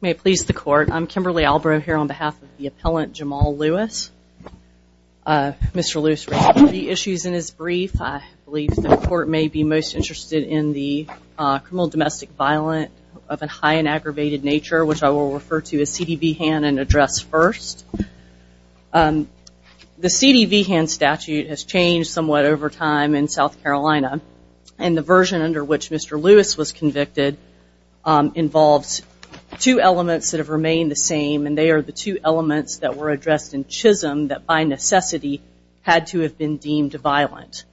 May it please the court, I'm Kimberly Albrow here on behalf of the appellant Jamal Lewis. Mr. Lewis raised three issues in his brief. I believe the court may be most interested in the criminal domestic violence of a high and aggravated nature which I will refer to as CDV-HAN and address first. The CDV-HAN statute has changed somewhat over time in South Carolina and the version under which Mr. Lewis is convicted involves two elements that have remained the same and they are the two elements that were addressed in Chisholm that by necessity had to have been deemed violent.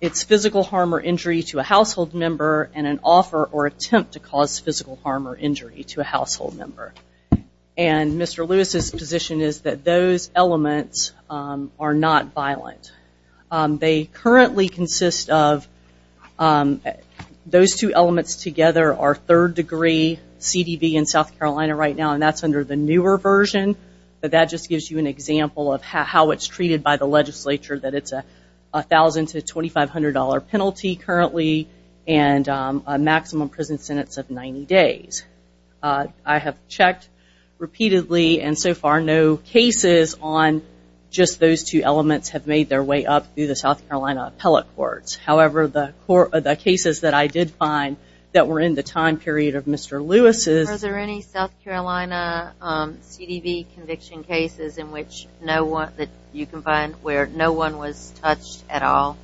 It's physical harm or injury to a household member and an offer or attempt to cause physical harm or injury to a household member and Mr. Lewis's position is that those elements are not violent. They currently consist of those two elements together are third degree CDV in South Carolina right now and that's under the newer version but that just gives you an example of how it's treated by the legislature that it's a $1,000 to $2,500 penalty currently and a maximum prison sentence of 90 days. I have checked repeatedly and so far no cases on just those two elements have made their way up through South Carolina appellate courts. However, the cases that I did find that were in the time period of Mr. Lewis's... Are there any South Carolina CDV conviction cases in which you can find where no one was touched at all?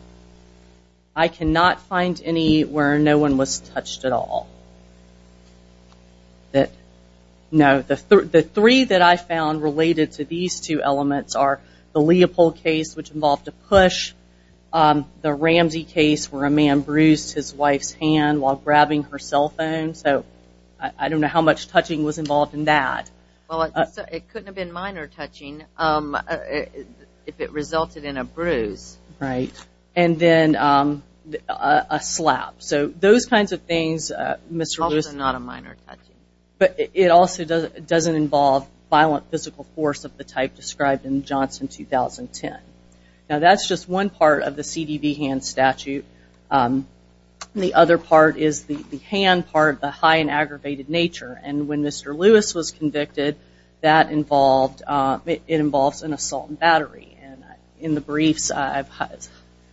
I cannot find any where no one was touched at all. The three that I found related to these two elements are the Leopold case which involved a push, the Ramsey case where a man bruised his wife's hand while grabbing her cell phone. So I don't know how much touching was involved in that. It couldn't have been minor touching if it resulted in a bruise. Right. And then a slap. So those kinds of things Mr. Lewis... Also not a minor touching. But it also doesn't involve violent physical force of the type described in Johnson 2010. Now that's just one part of the CDV hand statute. The other part is the hand part, the high and aggravated nature. And when Mr. Lewis was convicted that involved... It involves an assault and battery. In the briefs I've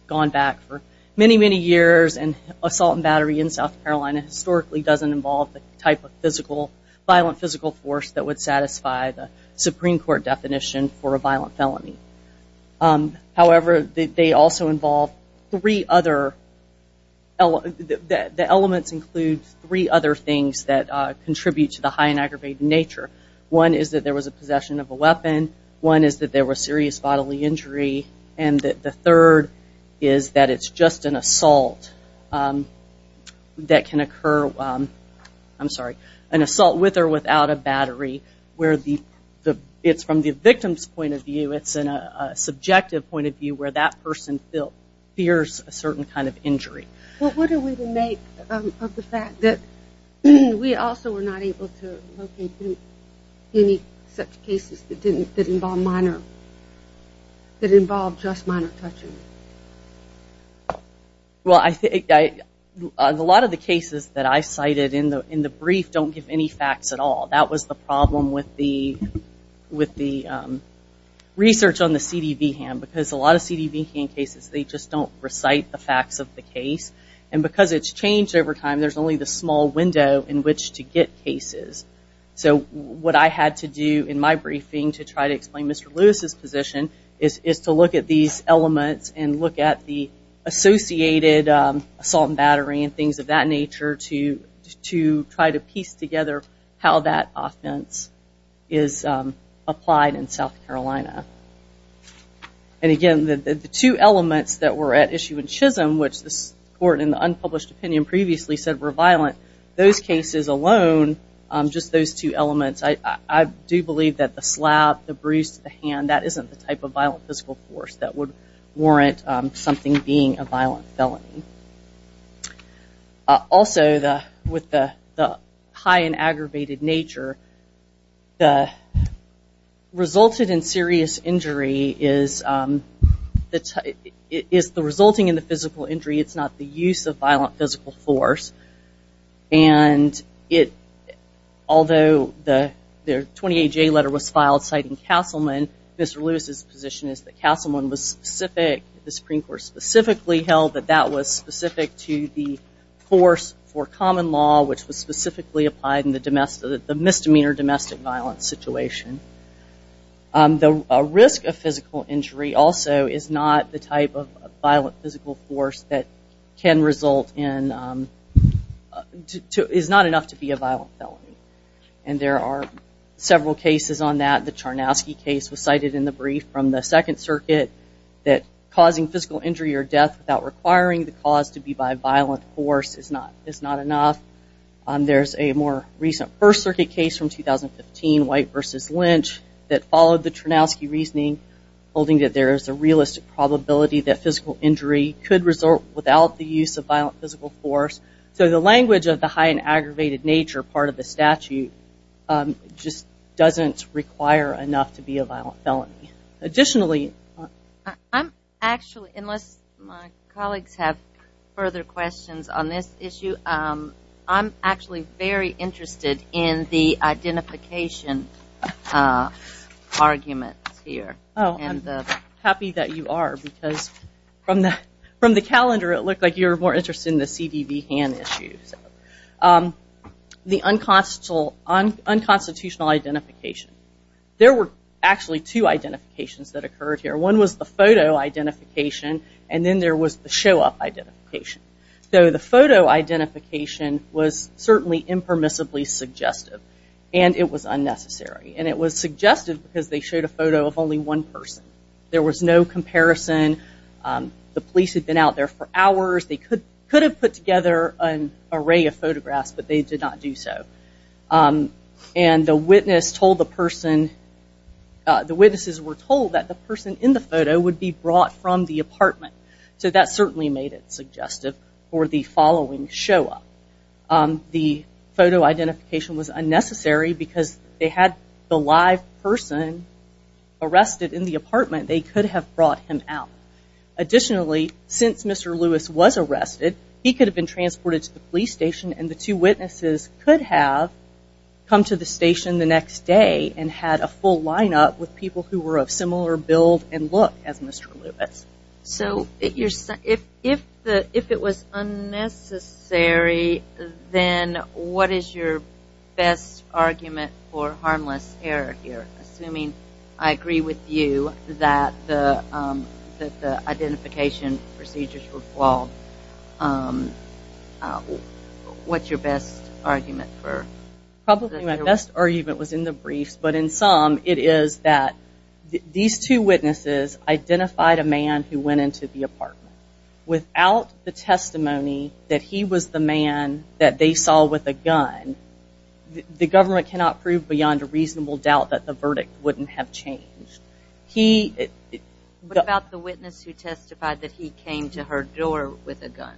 gone back for many, many years and assault and battery in South Carolina historically doesn't involve the type of physical, violent physical force that would satisfy the Supreme Court definition for a violent felony. However, they also involve three other... The elements include three other things that contribute to the high and aggravated nature. One is that there was a possession of a weapon. One is that there was serious bodily injury. And the third is that it's just an assault that can be felt with or without a battery where it's from the victim's point of view, it's in a subjective point of view where that person fears a certain kind of injury. But what do we make of the fact that we also were not able to locate any such cases that didn't involve minor... That involved just minor touching? Well, a lot of the cases that I cited in the brief don't give any facts at all. That was the problem with the research on the CDB ham because a lot of CDB ham cases, they just don't recite the facts of the case. And because it's changed over time, there's only the small window in which to get cases. So what I had to do in my briefing to try to explain Mr. Lewis's position is to look at these elements and look at the associated assault and battery and things of that nature to try to piece together how that offense is applied in South Carolina. And again, the two elements that were at issue in Chisholm, which this court in the unpublished opinion previously said were violent, those cases alone, just those two elements, I do believe that the slap, the bruise to the hand, that isn't the type of violent physical force that would warrant something being a violent felony. Also, with the high and aggravated nature, the resulted in serious injury is the resulting in the physical injury, it's not the use of violent physical force. And although the 28-J letter was filed citing Castleman, Mr. Lewis's position is that Castleman was specific, the Supreme Court specifically held that that was specific to the force for common law, which was specifically applied in the misdemeanor domestic violence situation. The risk of physical injury also is not the type of violent physical force that can result in, is not enough to be a violent felony. And there are several cases on that. The Second Circuit that causing physical injury or death without requiring the cause to be by violent force is not enough. There's a more recent First Circuit case from 2015, White v. Lynch, that followed the Chernowsky reasoning, holding that there is a realistic probability that physical injury could result without the use of violent physical force. So the language of the high and aggravated nature part of the statute just doesn't require enough to be a violent felony. Additionally, I'm actually, unless my colleagues have further questions on this issue, I'm actually very interested in the identification arguments here. Oh, I'm happy that you are, because from the calendar it looked like you're more interested in the CDB Hand Issues. The unconstitutional identification. There were actually two identifications that occurred here. One was the photo identification, and then there was the show-up identification. So the photo identification was certainly impermissibly suggestive, and it was unnecessary. And it was suggestive because they showed a photo of only one person. There was no comparison. The police had been out there for hours. They could have put together an array of photographs, but they did not do so. And the witness told the person, the witnesses were told that the person in the photo would be brought from the apartment. So that certainly made it suggestive for the following show-up. The photo identification was unnecessary because they had the live person arrested in the apartment. They could have brought him out. Additionally, since Mr. Lewis was arrested, he could have been transported to the police station, and the two witnesses could have come to the station the next day and had a full line-up with people who were of similar build and look as Mr. Lewis. So if it was unnecessary, then what is your best argument for harmless error here, assuming I agree with you that the identification procedures were flawed? Probably my best argument was in the briefs, but in some it is that these two witnesses identified a man who went into the apartment. Without the testimony that he was the man that they saw with a gun, the government cannot prove beyond a reasonable doubt that the verdict wouldn't have changed. What about the witness who testified that he came to her door with a gun?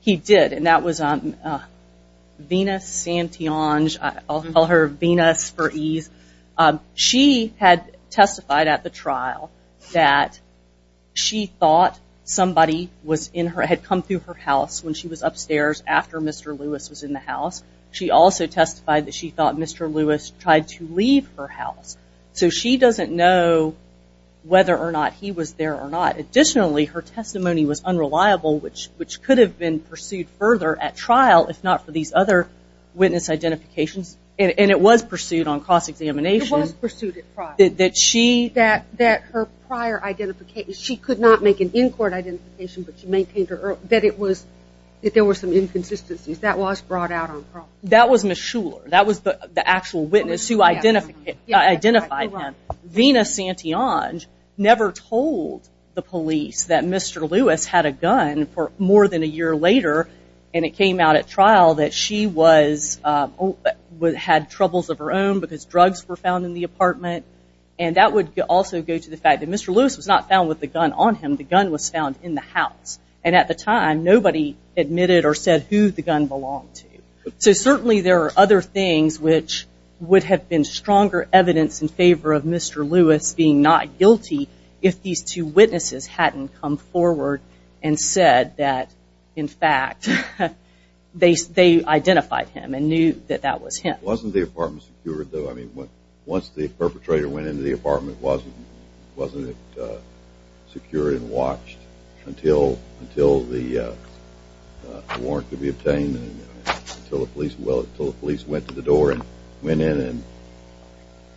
He did, and that was Venus Santiange. I'll call her Venus for ease. She had testified at the trial that she thought somebody had come through her house when she was upstairs after Mr. Lewis was in the house. She also testified that she thought Mr. Lewis tried to leave her house. So she doesn't know whether or not he was there or not. Additionally, her testimony was unreliable, which could have been pursued further at trial if not for these other witness identifications, and it was pursued on cross-examination. It was pursued at trial. That her prior identification, she could not make an in-court identification, but she maintained that there were some inconsistencies. That was brought out on trial. That was Ms. Shuler. That was the Venus Santiange never told the police that Mr. Lewis had a gun for more than a year later, and it came out at trial that she had troubles of her own because drugs were found in the apartment, and that would also go to the fact that Mr. Lewis was not found with the gun on him. The gun was found in the house, and at the time nobody admitted or said who the gun belonged to. So certainly there are other things which would have been stronger evidence in Mr. Lewis being not guilty if these two witnesses hadn't come forward and said that in fact they identified him and knew that that was him. Wasn't the apartment secured though? I mean, once the perpetrator went into the apartment, wasn't it secured and watched until the warrant could be obtained, until the police went to the door and went in and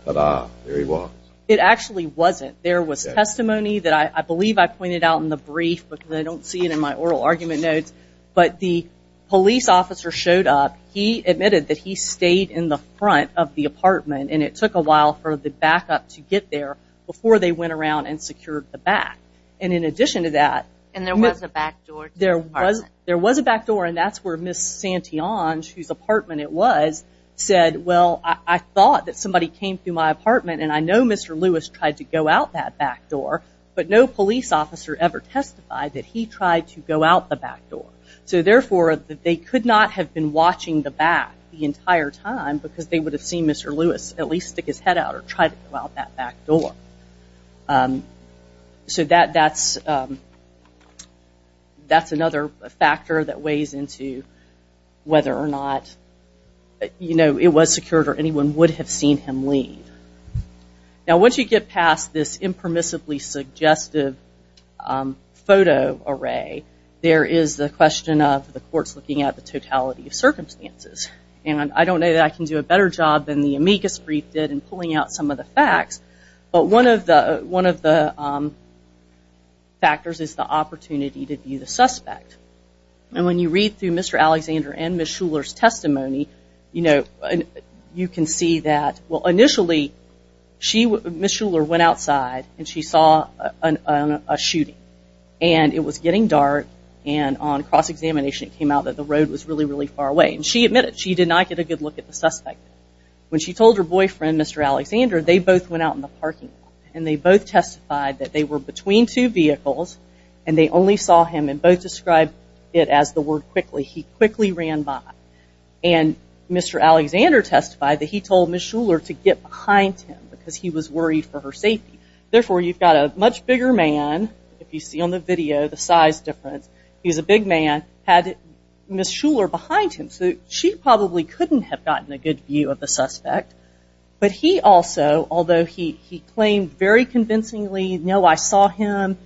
there he was? It actually wasn't. There was testimony that I believe I pointed out in the brief, but I don't see it in my oral argument notes, but the police officer showed up. He admitted that he stayed in the front of the apartment, and it took a while for the backup to get there before they went around and secured the back. And in addition to that, there was a back door, and that's where Ms. Santiange, whose apartment it was, said, well, I thought that somebody came through my apartment, and I know Mr. Lewis tried to go out that back door, but no police officer ever testified that he tried to go out the back door. So therefore, they could not have been watching the back the entire time because they would have seen Mr. Lewis at least stick his head out or try to go out that back door. So that's another factor that weighs into whether or not it was secured or anyone would have seen him leave. Now, once you get past this impermissibly suggestive photo array, there is the question of the courts looking at the totality of circumstances. And I don't know that I can do a better job than the amicus brief did in pulling out some of the facts, but one of the factors is the opportunity to view the suspect. And when you read through Mr. Alexander and Ms. Shuler's testimony, you know, you can see that, well, initially, Ms. Shuler went outside and she saw a shooting. And it was getting dark, and on cross-examination, it came out that the road was really, really far away. And she admitted she did not get a good look at the suspect. When she told her boyfriend, Mr. Alexander, they both went out in the parking lot, and they both testified that they were between two vehicles, and they only saw him, and both described it as the word quickly. He quickly ran by. And Mr. Alexander testified that he told Ms. Shuler to get behind him because he was worried for her safety. Therefore, you've got a much bigger man, if you see on the video the size difference, he's a big man, had Ms. Shuler behind him. So she probably couldn't have gotten a good view of the suspect. But he also, although he claimed very convincingly, no, I saw him,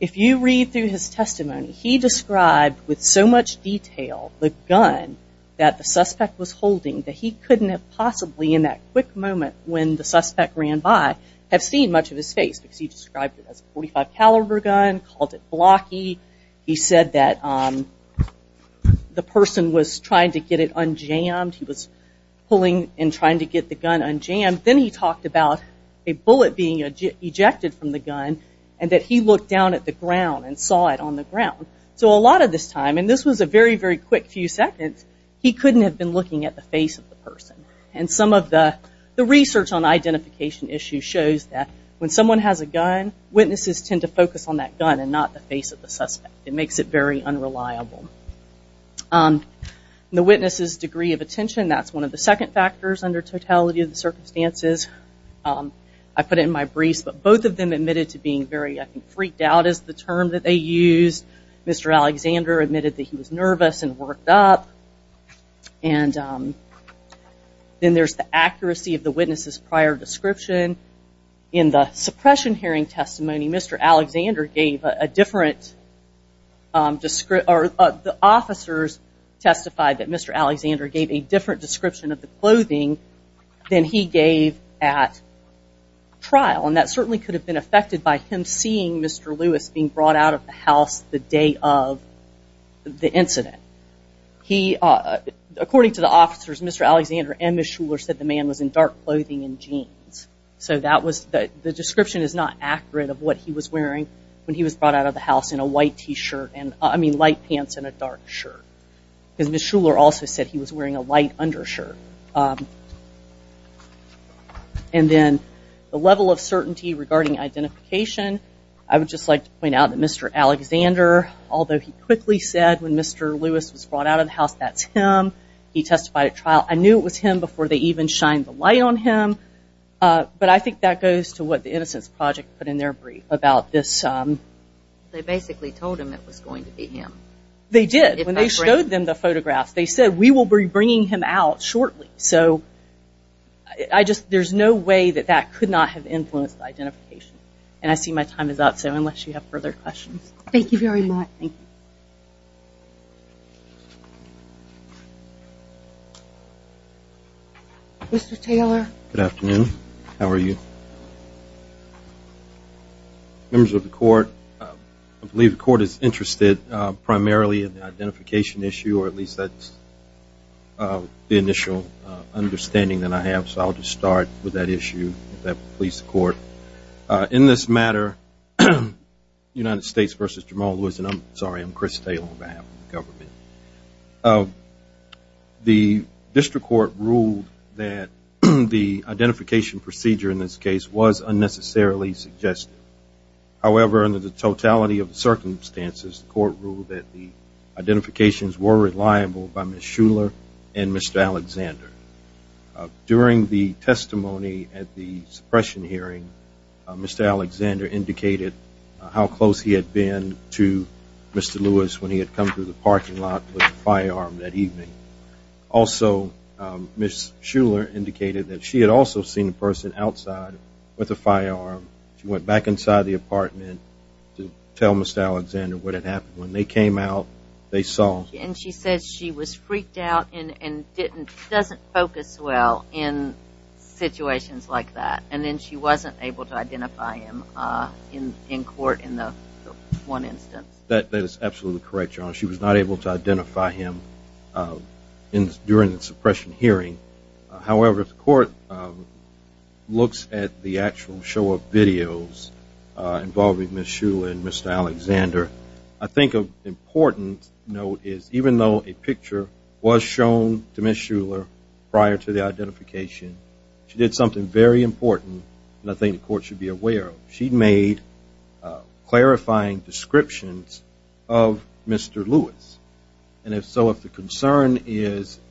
if you read through his testimony, he described with so much detail the gun that the suspect was holding that he couldn't have possibly, in that quick moment when the suspect ran by, have seen much of his face because he described it as a .45 caliber gun, called it blocky. He said that the person was trying to get it unjammed. Then he talked about a bullet being ejected from the gun and that he looked down at the ground and saw it on the ground. So a lot of this time, and this was a very, very quick few seconds, he couldn't have been looking at the face of the person. And some of the research on identification issues shows that when someone has a gun, witnesses tend to focus on that gun and not the face of the suspect. It makes it very unreliable. The witness's degree of attention, that's one of the second factors under the totality of the circumstances. I put it in my briefs, but both of them admitted to being very, I think, freaked out is the term that they used. Mr. Alexander admitted that he was nervous and worked up. And then there's the accuracy of the witness's prior description. In the suppression hearing testimony, Mr. Alexander gave a different, the officers testified that Mr. Lewis was wearing a lighter shirt than he gave at trial. And that certainly could have been affected by him seeing Mr. Lewis being brought out of the house the day of the incident. He, according to the officers, Mr. Alexander and Ms. Shuler said the man was in dark clothing and jeans. So that was, the description is not accurate of what he was wearing when he was brought out of the house in a white T-shirt, I mean light pants and a shirt. And then the level of certainty regarding identification. I would just like to point out that Mr. Alexander, although he quickly said when Mr. Lewis was brought out of the house, that's him. He testified at trial. I knew it was him before they even shined the light on him. But I think that goes to what the Innocence Project put in their brief about this. They basically told him it was going to be him. They did. When they showed them the photographs, they said, we will be bringing him out shortly. So I just, there's no way that that could not have influenced identification. And I see my time is up. So unless you have further questions. Thank you very much. Thank you. Mr. Taylor. Good afternoon. How are you? Members of the court, I believe the court is ready for the initial understanding that I have. So I'll just start with that issue, if that will please the court. In this matter, United States v. Jamal Lewis, and I'm sorry, I'm Chris Taylor on behalf of the government. The district court ruled that the identification procedure in this case was unnecessarily suggested. However, under the totality of the circumstances, the court ruled that the identifications were reliable by Ms. Shuler and Mr. Alexander. During the testimony at the suppression hearing, Mr. Alexander indicated how close he had been to Mr. Lewis when he had come through the parking lot with a firearm that evening. Also, Ms. Shuler indicated that she had also seen a person outside with a firearm. She went back inside the apartment to tell Ms. Alexander what had happened. When they came out, they saw. And she said she was freaked out and doesn't focus well in situations like that. And then she wasn't able to identify him in court in the one instance. That is absolutely correct, Your Honor. She was not able to identify him during the suppression hearing. However, the court looks at the actual show of videos involving Ms. Shuler and Mr. Alexander. I think an important note is, even though a picture was shown to Ms. Shuler prior to the identification, she did something very important that I think the court should be aware of. She made clarifying descriptions of Mr. Lewis. And if so, if the concern is –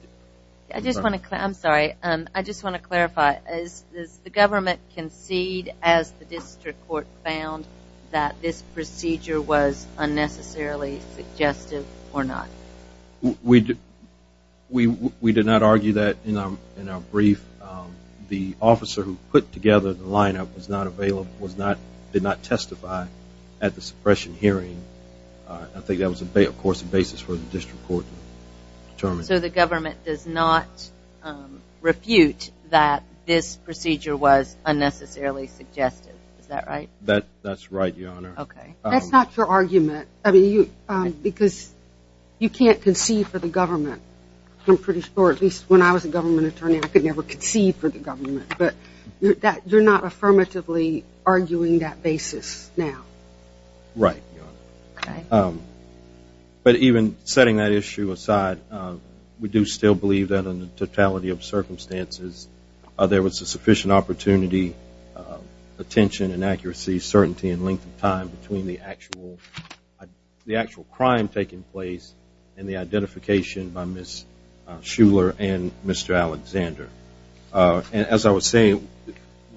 I just want to – I'm sorry. I just want to clarify. Does the government concede, as the district court found, that this procedure was unnecessarily suggestive or not? We did not argue that in our brief. The officer who put together the lineup was not available, did not testify at the suppression hearing. I think that was, of course, a basis for the district court to determine. So the government does not refute that this procedure was unnecessarily suggestive. Is that right? That's right, Your Honor. Okay. That's not your argument. I mean, because you can't concede for the government. I'm pretty sure, at least when I was a government attorney, I could never concede for the government. But you're not affirmatively arguing that basis now? Right, Your Honor. Okay. But even setting that issue aside, we do still believe that in the totality of circumstances, there was a sufficient opportunity, attention and accuracy, certainty and length of time between the actual – the actual crime taking place and the identification by Ms. Shuler and Mr. Alexander. And as I was saying,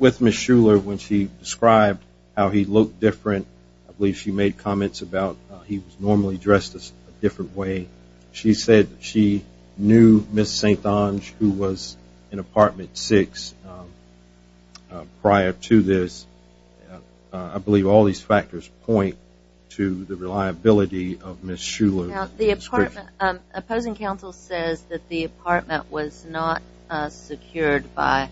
with Ms. Shuler, when she described how he looked different, I believe she made comments about he was normally dressed a different way. She said she knew Ms. St. Onge, who was in Apartment 6, prior to this. I believe all these factors point to the reliability of Ms. Shuler. Now, the opposing counsel says that the apartment was not secured by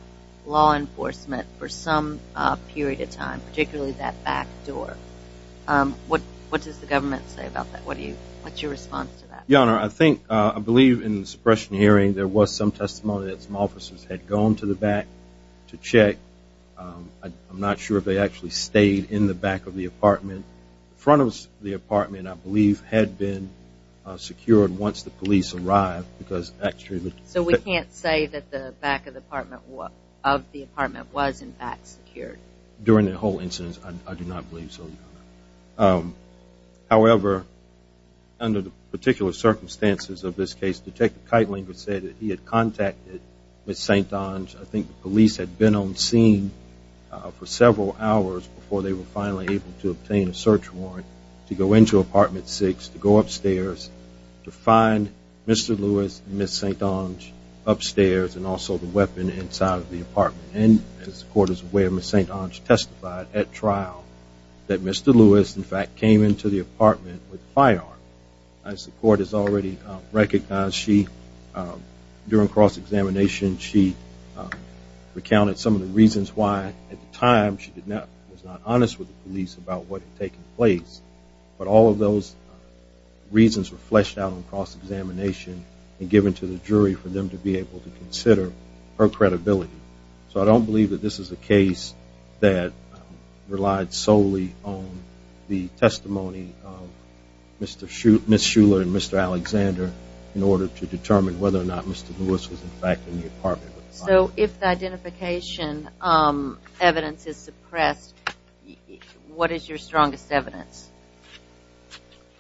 law for a period of time, particularly that back door. What does the government say about that? What do you – what's your response to that? Your Honor, I think – I believe in the suppression hearing, there was some testimony that some officers had gone to the back to check. I'm not sure if they actually stayed in the back of the apartment. The front of the apartment, I believe, had been secured once the police arrived, because actually – during the whole incident, I do not believe so, Your Honor. However, under the particular circumstances of this case, Detective Keitling would say that he had contacted Ms. St. Onge. I think the police had been on scene for several hours before they were finally able to obtain a search warrant to go into Apartment 6, to go upstairs, to find Mr. Lewis and Ms. St. Onge upstairs, and also the weapon inside of the apartment testified at trial that Mr. Lewis, in fact, came into the apartment with a firearm. As the court has already recognized, she – during cross-examination, she recounted some of the reasons why at the time she was not honest with the police about what had taken place. But all of those reasons were fleshed out on cross-examination and given to the jury for them to be able to consider her credibility. So I don't believe that this is a case that relied solely on the testimony of Ms. Shuler and Mr. Alexander in order to determine whether or not Mr. Lewis was, in fact, in the apartment with a firearm. So if the identification evidence is suppressed, what is your strongest evidence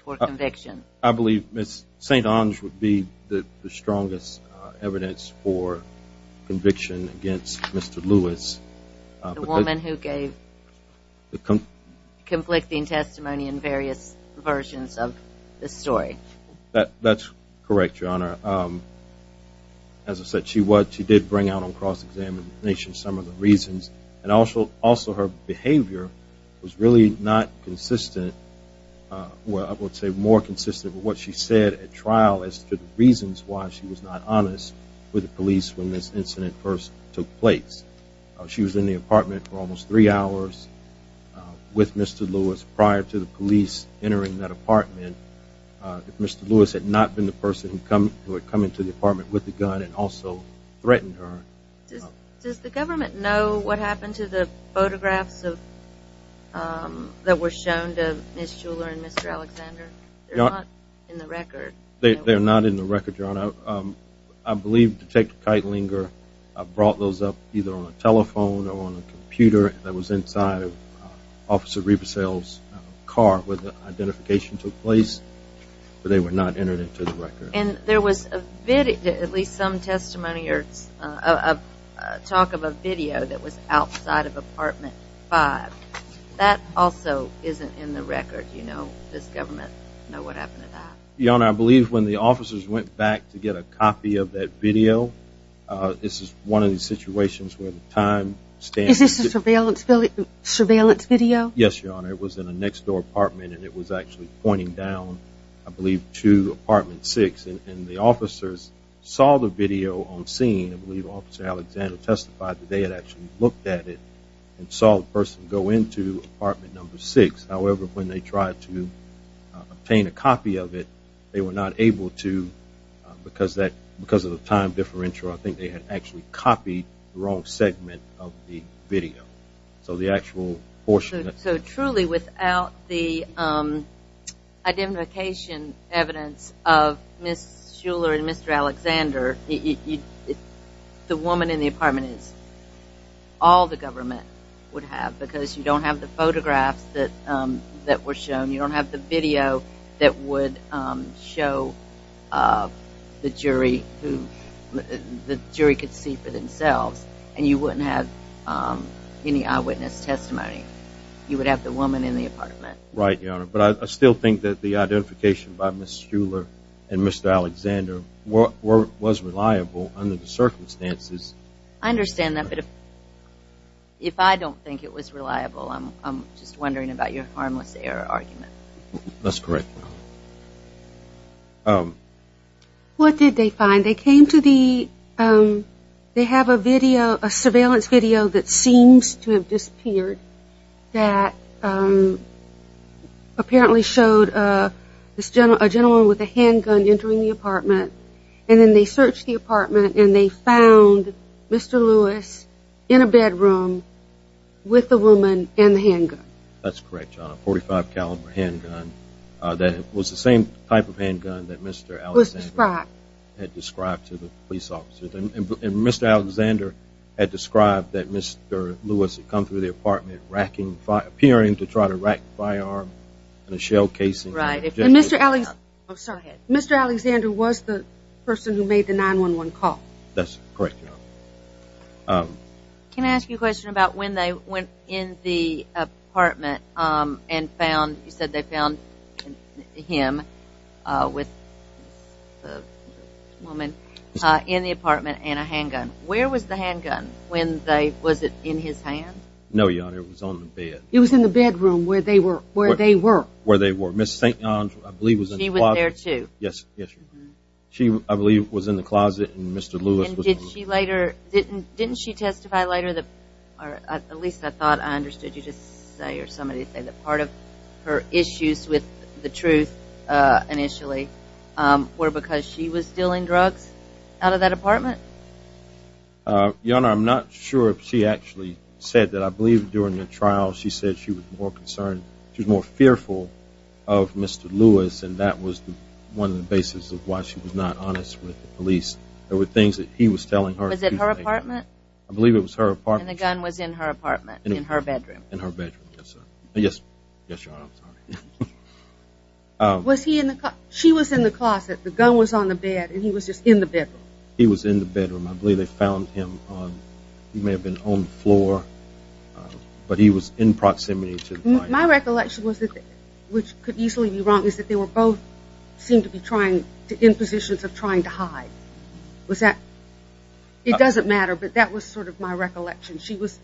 for conviction? I believe Ms. St. Onge would be the strongest evidence for conviction against Mr. Lewis. The woman who gave the conflicting testimony in various versions of the story. That's correct, Your Honor. As I said, she was – she did bring out on cross-examination some of the reasons, and also her behavior was really not consistent – well, I would say more consistent with what she said at trial as to the reasons why she was not honest with the police when this incident first took place. She was in the apartment for almost three hours with Mr. Lewis prior to the police entering that apartment. If Mr. Lewis had not been the person who had come into the apartment with the gun and also threatened her – Does the government know what happened to the photographs that were shown to Ms. Shuler and Mr. Alexander? They're not in the record. Your Honor, I believe Detective Keitlinger brought those up either on a telephone or on a computer that was inside of Officer Riebesel's car where the identification took place, but they were not entered into the record. And there was at least some testimony or talk of a video that was outside of apartment 5. That also isn't in the record. Does government know what happened to that? Your Honor, I believe when the officers went back to get a copy of that video – this is one of the situations where the time stands – Is this a surveillance video? Yes, Your Honor. It was in a next-door apartment and it was actually pointing down, I believe, to apartment 6. And the officers saw the video on scene. I believe Officer Alexander testified that they had actually looked at it and saw the person go into apartment number 6. However, when they tried to obtain a copy of it, they were not able to because of the time differential, I think they had actually copied the wrong segment of the video. So the actual portion of it – So truly without the identification evidence of Ms. Shuler and Mr. Alexander, the woman in the apartment is – all the government would have because you don't have the photographs that were shown. You don't have the video that would show the jury could see for themselves. And you wouldn't have any eyewitness testimony. You would have the woman in the apartment. Right, Your Honor. But I still think that the identification by Ms. Shuler and Mr. Alexander was reliable under the circumstances. I understand that. But if I don't think it was reliable, I'm just wondering about your harmless error argument. That's correct. What did they find? They came to the – they have a surveillance video that seems to have disappeared that apparently showed a gentleman with a handgun entering the apartment. And then they searched the apartment and they found Mr. Lewis in a bedroom with the woman and the handgun. That's correct, Your Honor. A .45 caliber handgun that was the same type of handgun that Mr. Alexander had described to the police officer. And Mr. Alexander had described that Mr. Lewis had come through the apartment appearing to try to rack the firearm in a shell casing. Mr. Alexander was the person who made the 911 call? That's correct, Your Honor. Can I ask you a question about when they went in the apartment and found – you said they found him with the woman in the apartment and a handgun. Where was the handgun? Was it in his hand? No, Your Honor. It was on the bed. It was in the bedroom where they were. Ms. St. John's, I believe, was in the closet. She was there too? Yes, yes. She, I believe, was in the closet and Mr. Lewis was in the room. And did she later – didn't she testify later that – or at least I thought I understood you to say or somebody to say that part of her issues with the truth initially were because she was dealing drugs out of that apartment? Your Honor, I'm not sure if she actually said that. I believe during the trial she said she was more concerned, she was more fearful of Mr. Lewis and that was one of the basis of why she was not honest with the police. There were things that he was telling her. Was it her apartment? I believe it was her apartment. And the gun was in her apartment, in her bedroom? In her bedroom, yes, Your Honor. Was he in the – she was in the closet, the gun was on the bed, and he was just in the bedroom? He was in the bedroom. I believe they found him on – he may have but he was in proximity to the crime scene. My recollection was that – which could easily be wrong – is that they were both seemed to be trying to – in positions of trying to hide. Was that – it doesn't matter but that was sort of my recollection. She was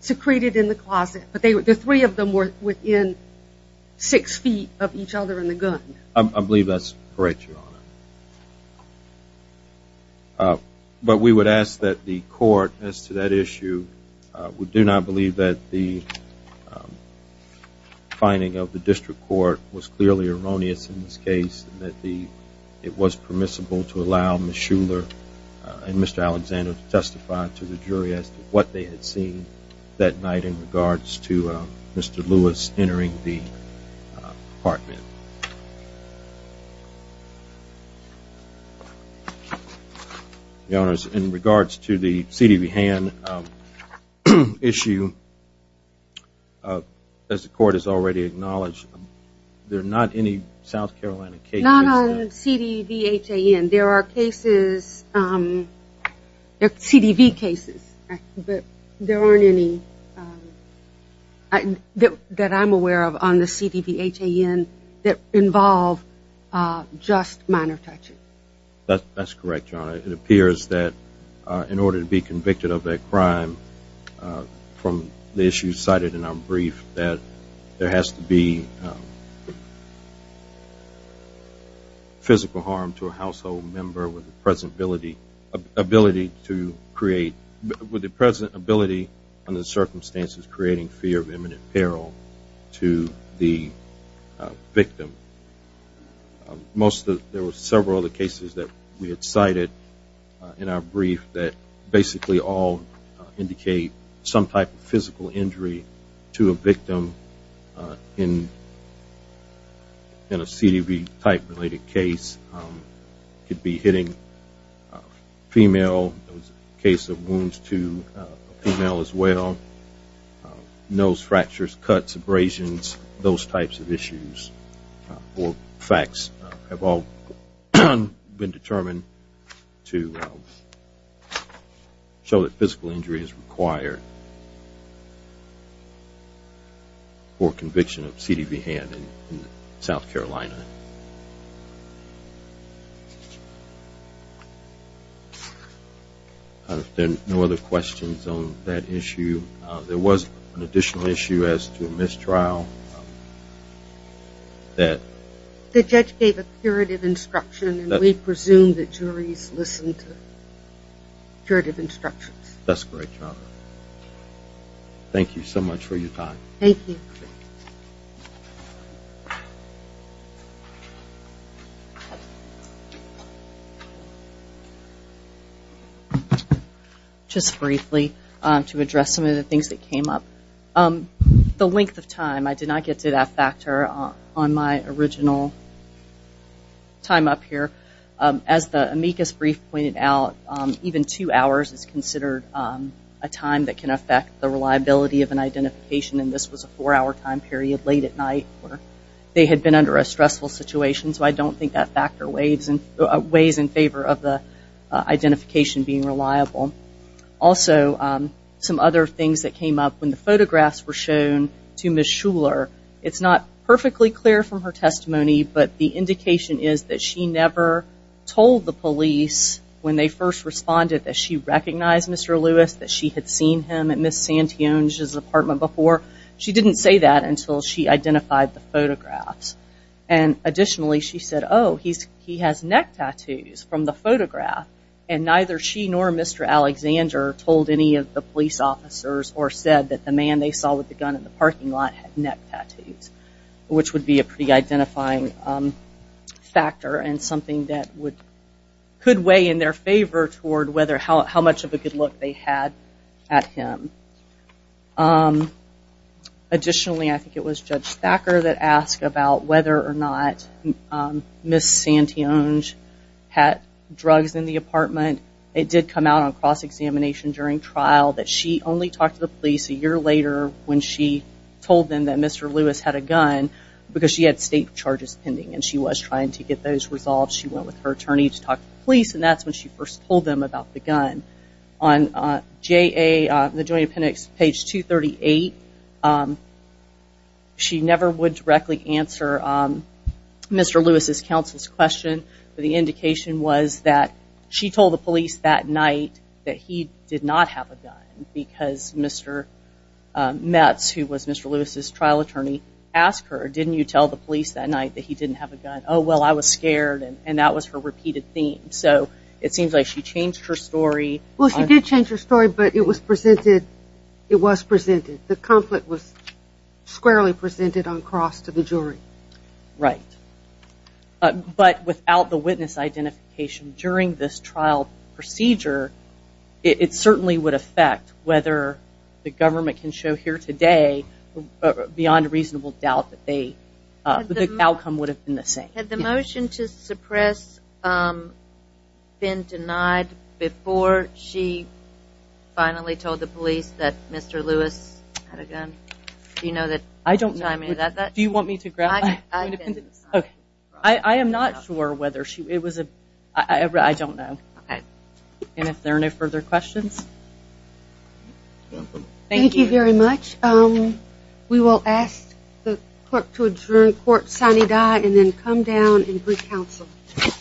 secreted in the closet but they were – the three of them were within six feet of each other in the gun. I believe that's correct, Your Honor. But we would ask that the finding of the district court was clearly erroneous in this case and that the – it was permissible to allow Ms. Shuler and Mr. Alexander to testify to the jury as to what they had seen that night in regards to Mr. Lewis entering the apartment. Your Honors, in regards to the CDBHAN issue, as the court has already acknowledged, there are not any South Carolina cases. Not on CDBHAN. There are cases – CDB cases but there aren't any that I'm aware of on the CDBHAN that involve just minor touching. That's correct, Your Honor. It appears that in order to be convicted of a crime from the issues cited in our brief that there has to be physical harm to a household member with the present ability under the circumstances creating fear of imminent peril to the victim. Most of – there were several other cases that we had cited in our brief that basically all indicate some type of physical injury to a victim in a CDB type related case. It could be getting a female – it was a case of wounds to a female as well, nose fractures, cuts, abrasions, those types of issues or facts have all been determined to show that physical injury is required for conviction of CDBHAN in South Carolina. There are no other questions on that issue. There was an additional issue as to a mistrial that – The judge gave a curative instruction and we presume that juries listen to curative instructions. That's correct, Your Honor. Thank you so much for your time. Thank you. Just briefly to address some of the things that came up. The length of time, I did not get to that factor on my original time up here. As the amicus brief pointed out, even two hours is considered a time that can affect the reliability of an identification and this was a four hour time period late at night. They had been under a stressful situation so I don't think that factor weighs in favor of the identification being reliable. Also, some other things that came up when the photographs were shown to Ms. Shuler, it's not perfectly clear from her testimony but the indication is that she never told the police when they first responded that she recognized Mr. Lewis, that she had seen him at Ms. Santune's apartment before. She didn't say that until she identified the photographs. Additionally, she said, oh, he has neck tattoos from the photograph and neither she nor Mr. Alexander told any of the police officers or said that the man they saw with the gun in the parking lot had neck tattoos. Which would be a pretty identifying factor and something that could weigh in their favor toward how much of a good look they had at him. Additionally, I think it was Judge Thacker that asked about whether or not Ms. Santune had drugs in the apartment. It did come out on cross-examination during trial that she only talked to the police a year later when she told them that Mr. Lewis had a gun because she had state charges pending and she was trying to get those resolved. She went with her attorney to talk to the police and that's when she first told them about the gun. On JA, the Joint Appendix page 238, she never would directly answer Mr. Lewis' counsel's question but the indication was that she told the police that night that he did not have a gun because Mr. Metz, who was Mr. Lewis' trial attorney, asked her, didn't you tell the police? She said, well, I was scared and that was her repeated theme. It seems like she changed her story. Well, she did change her story but it was presented the conflict was squarely presented on cross to the jury. Right. But without the witness identification during this trial procedure it certainly would affect whether the government can show here today, beyond reasonable doubt, that they the outcome would have been the same. Had the motion to suppress been denied before she finally told the police that Mr. Lewis had a gun? Do you know that? I don't know. Do you want me to graph that? I am not sure whether she, it was a, I don't know. And if there are no further questions? Thank you very much. We will ask the clerk to adjourn court sine die and then come down and brief counsel. This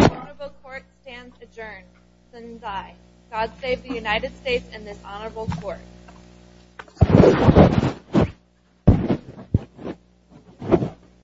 honorable court stands adjourned sine die. God save the United States and this honorable court.